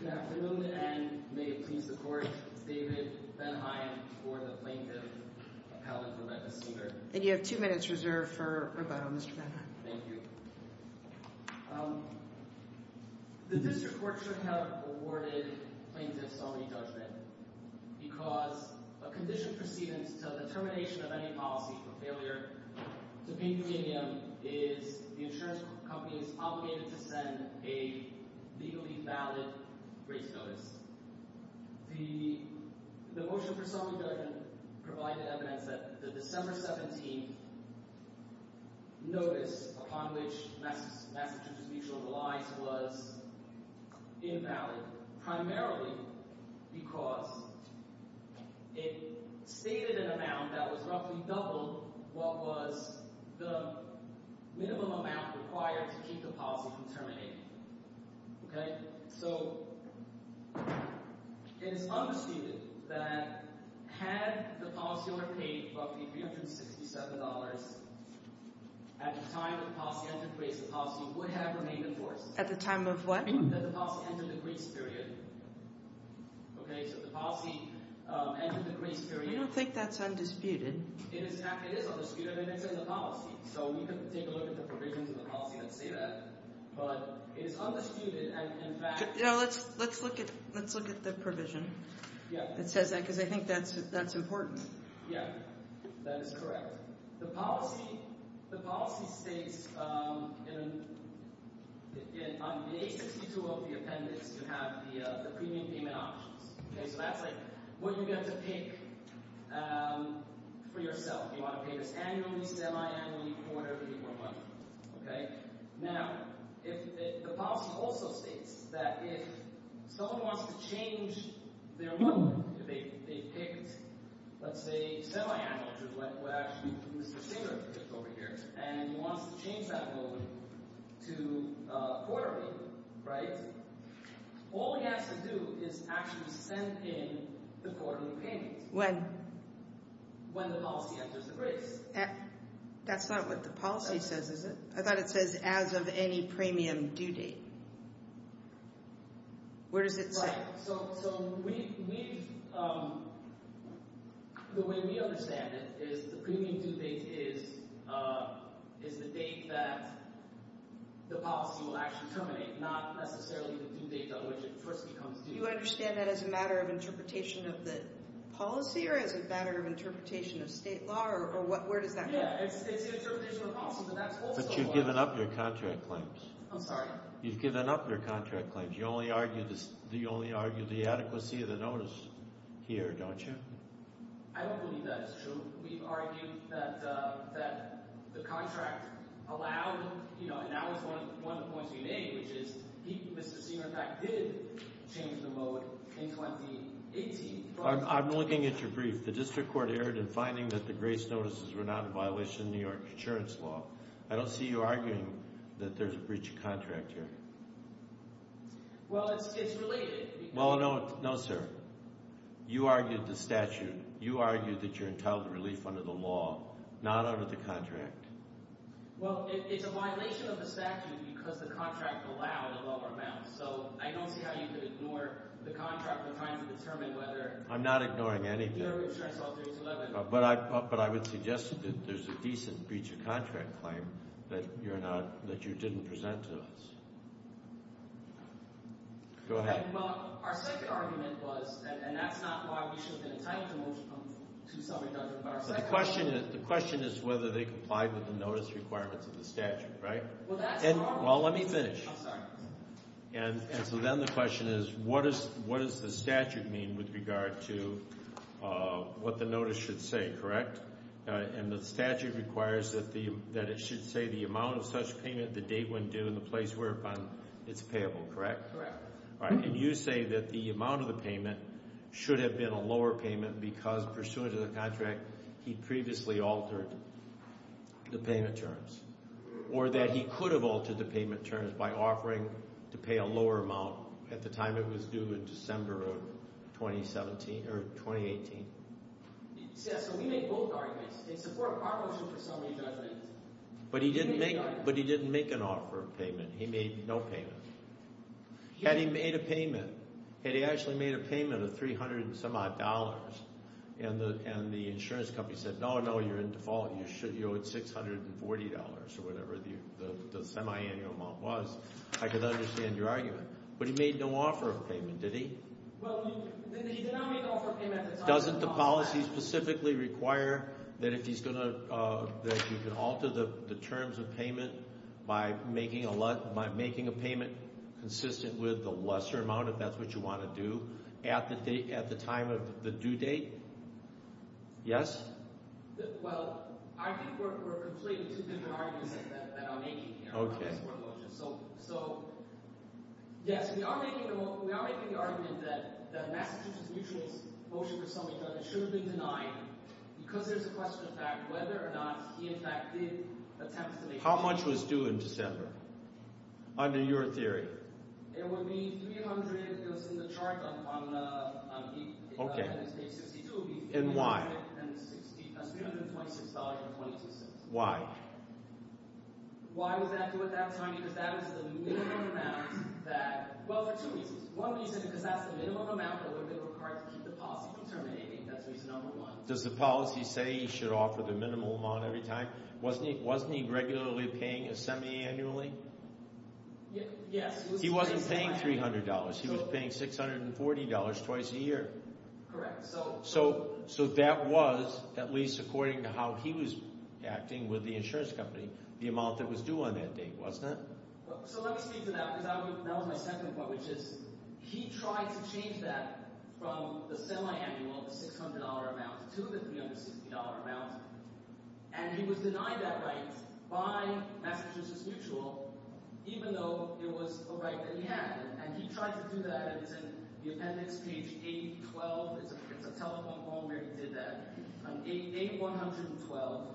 Good afternoon, and may it please the Court, it's David Benheim for the Plaintiff Appellate Rebecca Seeger. And you have two minutes reserved for rebuttal, Mr. Benheim. Thank you. The District Court should have awarded plaintiffs only judgment because a condition preceding the termination of any policy for failure to pay the premium is the insurance company is obligated to send a legally valid rates notice. The motion for summary judgment provided evidence that the December 17th notice upon which Massachusetts Mutual relies was invalid, primarily because it stated an amount that was roughly double what was the minimum amount required to keep the policy from terminating. Okay? So, it is understated that had the policy owner paid roughly $367 at the time the policy entered grace, the policy would have remained in force. At the time of what? That the policy entered the grace period. Okay, so the policy entered the grace period. I don't think that's undisputed. It is undisputed, and it's in the policy. So, we can take a look at the provisions of the policy that say that, but it is undisputed, and in fact... Let's look at the provision that says that, because I think that's important. Yeah, that is correct. The policy states on page 62 of the appendix, you have the premium payment options. Okay, so that's like what you get to pick for yourself. You want to pay this annually, semi-annually, quarterly, or monthly. Okay? Now, the policy also states that if someone wants to change their loan, if they've picked, let's say, semi-annually, which is what actually Mr. Singer picked over here, and he wants to change that loan to quarterly, right? All he has to do is actually send in the quarterly payment. When? When the policy enters the grace. That's not what the policy says, is it? I thought it says, as of any premium due date. Where does it say? Right, so the way we understand it is the premium due date is the date that the policy will actually terminate, not necessarily the due date on which it first becomes due. You understand that as a matter of interpretation of the policy, or as a matter of interpretation of state law, or where does that come from? But you've given up your contract claims. I'm sorry? You've given up your contract claims. You only argue the adequacy of the notice here, don't you? I don't believe that is true. We've argued that the contract allowed, and that was one of the points we made, which is Mr. Singer, in fact, did change the mode in 2018. I'm looking at your brief. The district court erred in finding that the grace notices were not in violation of New York insurance law. I don't see you arguing that there's a breach of contract here. Well, it's related. Well, no, sir. You argued the statute. You argued that you're entitled to relief under the law, not under the contract. Well, it's a violation of the statute because the contract allowed a lower amount. So I don't see how you could ignore the contract when trying to determine whether New York insurance law 3211. I'm not ignoring anything, but I would suggest that there's a decent breach of contract claim that you didn't present to us. Go ahead. Well, our second argument was, and that's not why we should have been entitled to some reduction. The question is whether they complied with the notice requirements of the statute, right? Well, that's the problem. Well, let me finish. I'm sorry. And so then the question is, what does the statute mean with regard to what the notice should say, correct? And the statute requires that it should say the amount of such payment, the date when due, and the place whereupon it's payable, correct? Correct. All right, and you say that the amount of the payment should have been a lower payment because, pursuant to the contract, he previously altered the payment terms or that he could have altered the payment terms by offering to pay a lower amount at the time it was due in December of 2018? Yes, so we made both arguments. They support our motion for somebody to have payments. But he didn't make an offer of payment. He made no payment. Had he made a payment, had he actually made a payment of $300 and some odd dollars and the insurance company said, no, no, you're in default, you owed $640 or whatever the semiannual amount was, I could understand your argument. But he made no offer of payment, did he? Well, he did not make an offer of payment at the time. Doesn't the policy specifically require that if he's going to – that you can alter the terms of payment by making a payment consistent with the lesser amount, if that's what you want to do, at the time of the due date? Yes? Well, I think we're completing two different arguments that I'm making here. Okay. So, yes, we are making the argument that Massachusetts Mutual's motion for something should have been denied because there's a question of fact whether or not he in fact did attempt to make payments. How much was due in December under your theory? It would be $300. It was in the chart on – on the – on the – Okay. And why? $326.22. Why? Why would that do it that time? Because that was the minimum amount that – well, for two reasons. One reason is because that's the minimum amount that would be required to keep the policy from terminating. That's reason number one. Does the policy say he should offer the minimum amount every time? Wasn't he – wasn't he regularly paying a semiannually? Yes. He wasn't paying $300. He was paying $640 twice a year. Correct. So – So that was, at least according to how he was acting with the insurance company, the amount that was due on that date, wasn't it? So let me speak to that because that was my second point, which is he tried to change that from the semiannual, the $600 amount, to the $360 amount, and he was denied that right by Massachusetts Mutual even though it was a right that he had. And he tried to do that. It's in the appendix, page 812. It's a telephone call where he did that. On page 812.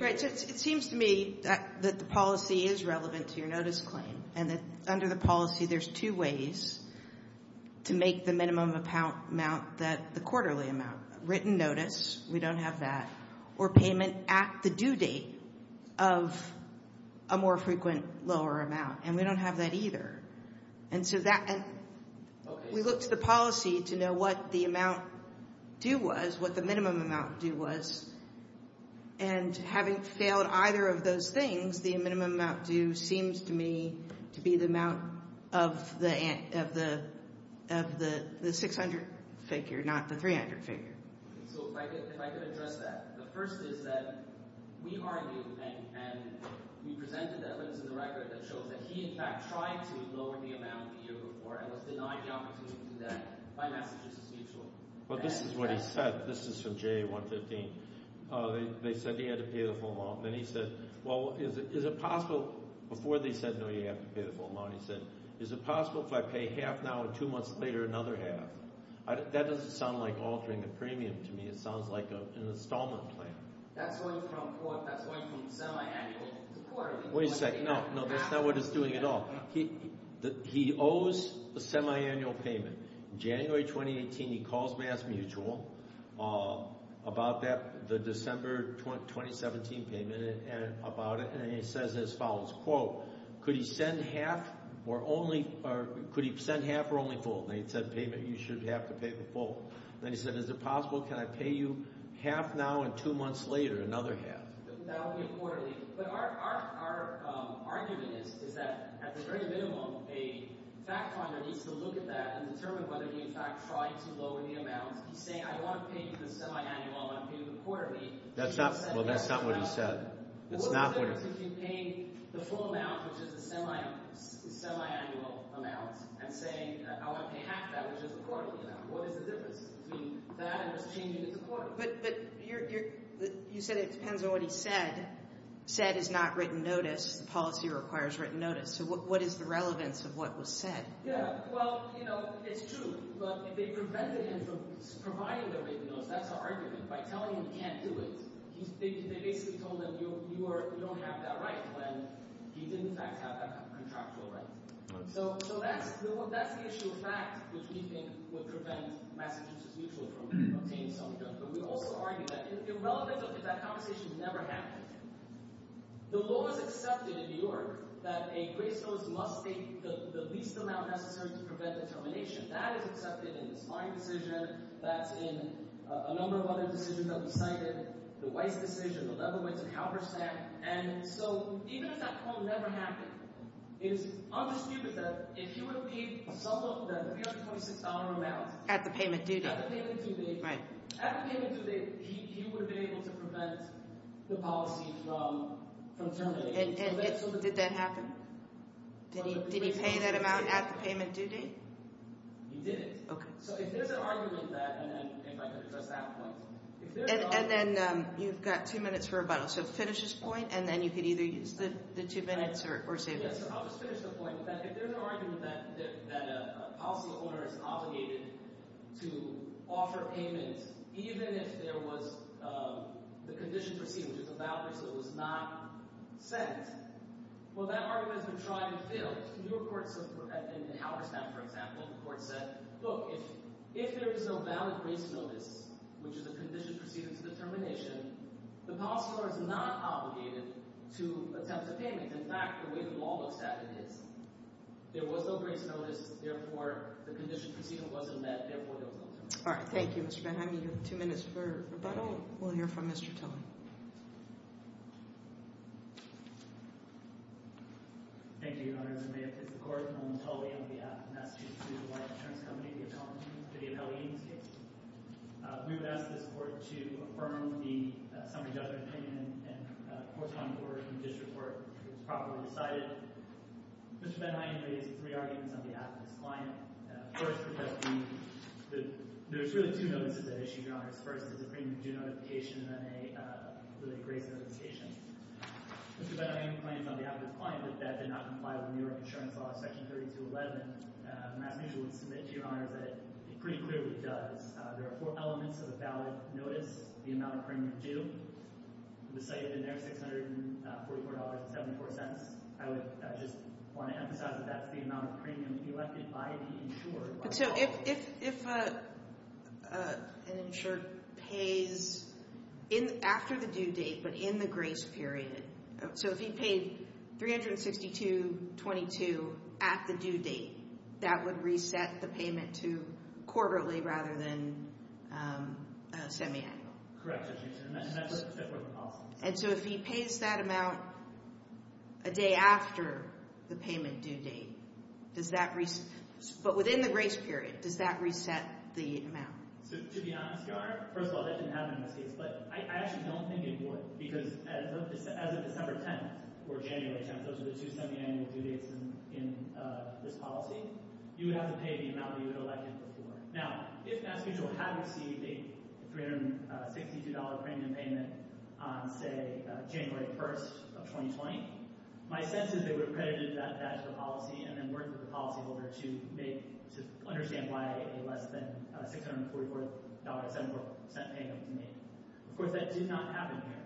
Right. So it seems to me that the policy is relevant to your notice claim and that under the policy there's two ways to make the minimum amount that – the quarterly amount. We don't have that. Or payment at the due date of a more frequent lower amount. And we don't have that either. And so that – we looked at the policy to know what the amount due was, what the minimum amount due was. And having failed either of those things, the minimum amount due seems to me to be the amount of the $600 figure, not the $300 figure. So if I could address that. The first is that we argue and we presented evidence in the record that shows that he in fact tried to lower the amount the year before and was denied the opportunity to do that by Massachusetts Mutual. Well, this is what he said. This is from JA-115. They said he had to pay the full amount. Then he said, well, is it possible – before they said, no, you have to pay the full amount, he said, is it possible if I pay half now and two months later another half? That doesn't sound like altering the premium to me. It sounds like an installment plan. That's going from semi-annual to quarterly. Wait a second. No, that's not what he's doing at all. He owes a semi-annual payment. January 2018 he calls MassMutual about that – the December 2017 payment about it. And he says as follows, quote, could he send half or only – or could he send half or only full? And he said payment – you should have to pay the full. Then he said, is it possible can I pay you half now and two months later another half? That would be a quarterly. But our argument is that at the very minimum a fact finder needs to look at that and determine whether he in fact tried to lower the amount. He's saying I want to pay you the semi-annual. I want to pay you the quarterly. That's not – well, that's not what he said. That's not what – What's the difference if you pay the full amount, which is the semi-annual amount, and say I want to pay half that, which is the quarterly amount? What is the difference between that and just changing it to quarterly? But you said it depends on what he said. Said is not written notice. The policy requires written notice. So what is the relevance of what was said? Yeah, well, it's true. But if they prevented him from providing the written notice, that's our argument. By telling him he can't do it, they basically told him you don't have that right when he didn't in fact have that contractual right. So that's the issue of fact, which we think would prevent Massachusetts Mutual from obtaining something. But we also argue that the relevance of that conversation has never happened. The law is accepted in New York that a grace notice must be the least amount necessary to prevent a termination. That is accepted in this Fine decision. That's in a number of other decisions that we cited, the Weiss decision, the Lebowitz and Halberstadt. And so even if that quote never happened, it is undisputed that if he would have paid some of the $326 amount. At the payment due date. At the payment due date. Right. At the payment due date, he would have been able to prevent the policy from terminating. And did that happen? Did he pay that amount at the payment due date? He didn't. Okay. So if there's an argument that, and if I can address that point. And then you've got two minutes for rebuttal. So finish this point, and then you could either use the two minutes or save it. I'll just finish the point with that. If there's an argument that a policyholder is obligated to offer payment even if there was the conditions received, which is a voucher, so it was not sent. In Halberstadt, for example, the court said, look, if there is no valid grace notice, which is a condition proceeding to the termination, the policyholder is not obligated to attempt a payment. In fact, the way the law looks at it is. There was no grace notice. Therefore, the condition proceeding wasn't met. Therefore, there was no termination. All right. Thank you, Mr. Benham. You have two minutes for rebuttal. We'll hear from Mr. Tilley. Thank you, Your Honor. This is the court. I'm William Tilley. I'm on behalf of the Massachusetts Legal Life Insurance Company, the appellee in this case. We would ask this court to affirm the summary judgment opinion and correspondence order from the district court, which was properly decided. Mr. Benham and I have raised three arguments on behalf of this client. First, there's really two notices that issue, Your Honor. First, there's a premium due notification and then a grace notification. Mr. Benham claims on behalf of this client that that did not comply with New York insurance law, section 3211. MassMutual would submit to Your Honor that it pretty clearly does. There are four elements of a valid notice, the amount of premium due. The city has been there, $644.74. I would just want to emphasize that that's the amount of premium elected by the insurer. So if an insurer pays after the due date but in the grace period, so if he paid $362.22 at the due date, that would reset the payment to quarterly rather than semiannual? Correct. And that's what the policy is. And so if he pays that amount a day after the payment due date, does that – but within the grace period, does that reset the amount? To be honest, Your Honor, first of all, that didn't happen in this case. But I actually don't think it would because as of December 10th or January 10th, those are the two semiannual due dates in this policy. You would have to pay the amount that you had elected before. Now, if MassMutual had received a $362 premium payment on, say, January 1st of 2020, my sense is they would have credited that back to the policy and then worked with the policyholder to make – to understand why a less than $644.74 payment was made. Of course, that did not happen here.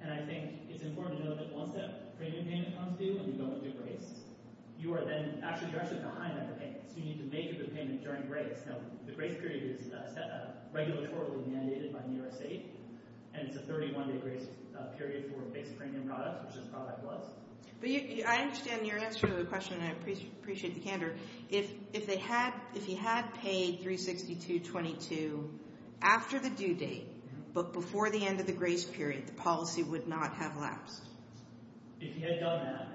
And I think it's important to note that once that premium payment comes due and you go into grace, you are then – actually, you're actually behind on the payment. So you need to make a good payment during grace. Now, the grace period is regulatory mandated by New York State, and it's a 31-day grace period for base premium products, which this product was. But I understand your answer to the question, and I appreciate the candor. If they had – if you had paid $362.22 after the due date but before the end of the grace period, the policy would not have lapsed. If you had done that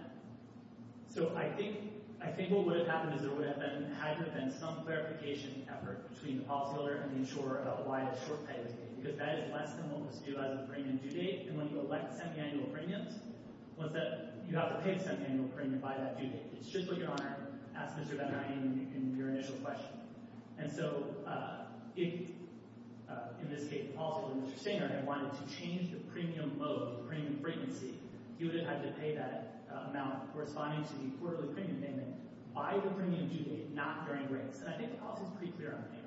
– so I think what would have happened is there would have been – there had to have been some clarification effort between the policyholder and the insurer about why a short payment was made because that is less than what was due as a premium due date. And when you elect semiannual premiums, what's that – you have to pay a semiannual premium by that due date. It's just what your honor asked Mr. Ben-Hur in your initial question. And so if, in this case, also Mr. Stanger had wanted to change the premium mode, the premium frequency, he would have had to pay that amount corresponding to the quarterly premium payment by the premium due date, not during grace. And I think the policy is pretty clear on that.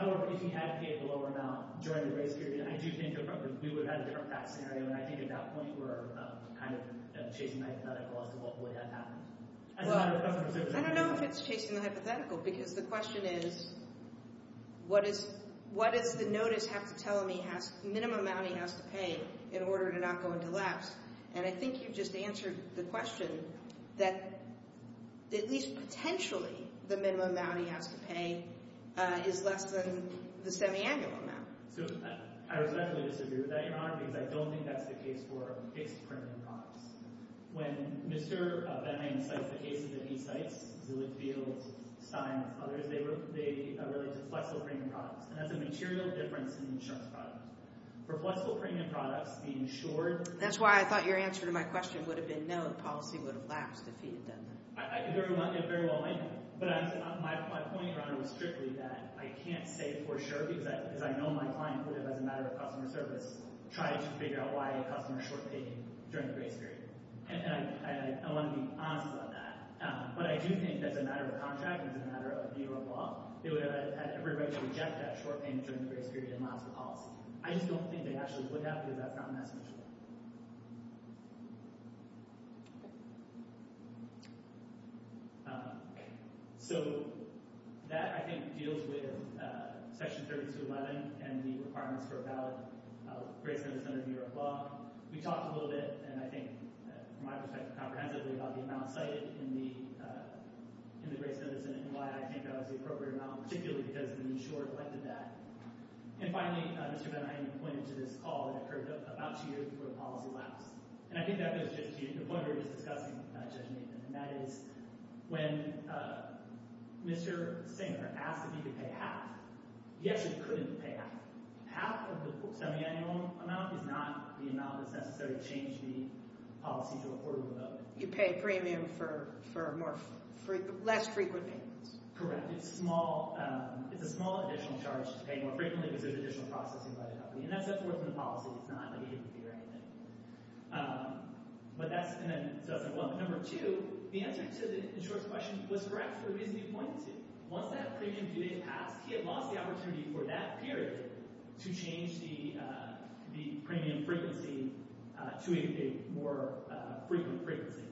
However, you can advocate a lower amount during the grace period. I do think we would have had a different tax scenario, and I think at that point we're kind of chasing the hypothetical as to what would have happened. Well, I don't know if it's chasing the hypothetical because the question is what does the notice have to tell me has – minimum amount he has to pay in order to not go into lapse? And I think you've just answered the question that at least potentially the minimum amount he has to pay is less than the semiannual amount. So I respectfully disagree with that, Your Honor, because I don't think that's the case for fixed premium products. When Mr. Ben-Hur cites the cases that he cites, Zillow Field, Stein, and others, they relate to flexible premium products. And that's a material difference in the insurance product. For flexible premium products, the insured – That's why I thought your answer to my question would have been no, the policy would have lapsed if he had done that. Very well. But my point, Your Honor, was strictly that I can't say for sure because I know my client would have, as a matter of customer service, tried to figure out why a customer short-paid during the grace period. And I want to be honest about that. But I do think that as a matter of contract and as a matter of view of law, they would have had every right to reject that short payment during the grace period and lost the policy. I just don't think they actually would have because that's not an estimation. So that, I think, deals with Section 3211 and the requirements for a valid grace medicine under the Bureau of Law. We talked a little bit, and I think from my perspective comprehensively, about the amount cited in the grace medicine and why I think that was the appropriate amount, particularly because the insurer collected that. And finally, Mr. Bernheim, you pointed to this call that occurred about two years before the policy lapsed. And I think that goes to the point where he was discussing, Judge Nathan, and that is when Mr. Singer asked if he could pay half. He actually couldn't pay half. Half of the semiannual amount is not the amount that's necessary to change the policy to a quarter of a vote. You pay a premium for less frequent payments. Correct. It's a small additional charge to pay more frequently because there's additional processing by the company. And that's what's worth in the policy. It's not an A or B or anything. But that's going to – well, number two, the answer to the insurer's question was correct for his viewpoint, too. Once that premium period passed, he had lost the opportunity for that period to change the premium frequency to a more frequent frequency.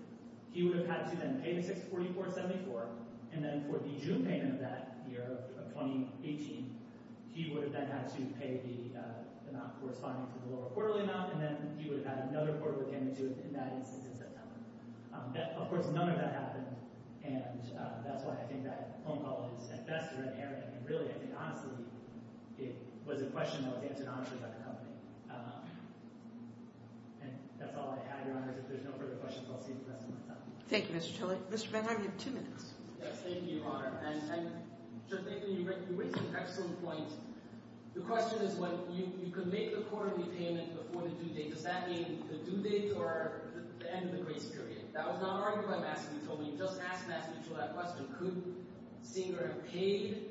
He would have had to then pay the 644.74, and then for the June payment of that year of 2018, he would have then had to pay the amount corresponding to the lower quarterly amount, and then he would have had another quarterly payment due in that instance in September. Of course, none of that happened, and that's why I think that phone call is at best a red herring. And really, I think honestly, it was a question that was answered honestly by the company. And that's all I have, Your Honor. If there's no further questions, I'll see you for the rest of my time. Thank you, Mr. Tillich. Mr. Benham, you have two minutes. Yes, thank you, Your Honor. And, Judge Binkley, you raise an excellent point. The question is when you can make the quarterly payment before the due date, does that mean the due date or the end of the grace period? That was not argued by Massie Till. You just asked Massie Till that question. Could Singer have paid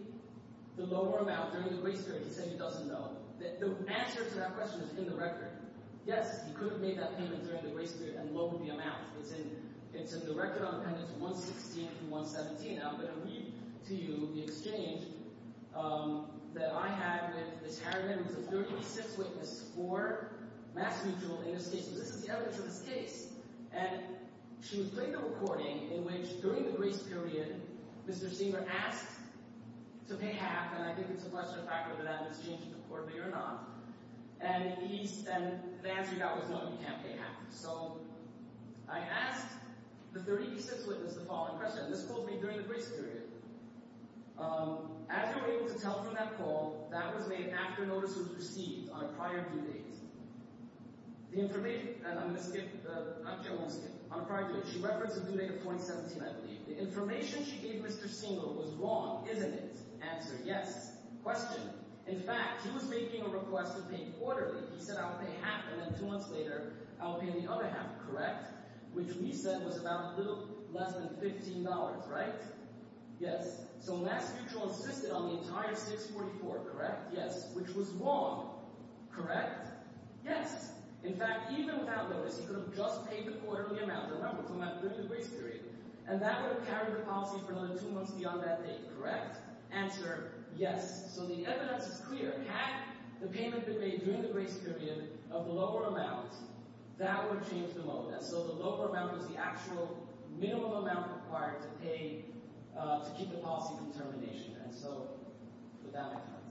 the lower amount during the grace period? He said he doesn't know. The answer to that question is in the record. Yes, he could have made that payment during the grace period and lowered the amount. It's in the record on Appendix 116 through 117. Now, I'm going to read to you the exchange that I had with Ms. Harrigan, who was a 36th witness for Massie Till in this case, because this is the evidence of his case. And she was playing the recording in which, during the grace period, Mr. Singer asked to pay half, and I think it's a question of whether that was changed to quarterly or not. And the answer he got was no, you can't pay half. So I asked the 36th witness the following question, and this told me during the grace period. As you were able to tell from that call, that was made after notice was received on a prior due date. The information—and I'm going to skip—I can't skip—on a prior due date. She referenced a due date of 2017, I believe. The information she gave Mr. Singer was wrong, isn't it? Answer yes. Question. In fact, he was making a request to pay quarterly. He said, I'll pay half, and then two months later I'll pay the other half, correct? Which we said was about a little less than $15, right? Yes. So Mass Mutual insisted on the entire $644, correct? Yes. Which was wrong, correct? Yes. In fact, even without notice, he could have just paid the quarterly amount. Remember, from that briefed grace period. And that would have carried the policy for another two months beyond that date, correct? Yes. Answer yes. So the evidence is clear. Had the payment been made during the grace period of the lower amount, that would change the mode. And so the lower amount was the actual minimum amount required to pay to keep the policy from termination. And so that makes sense.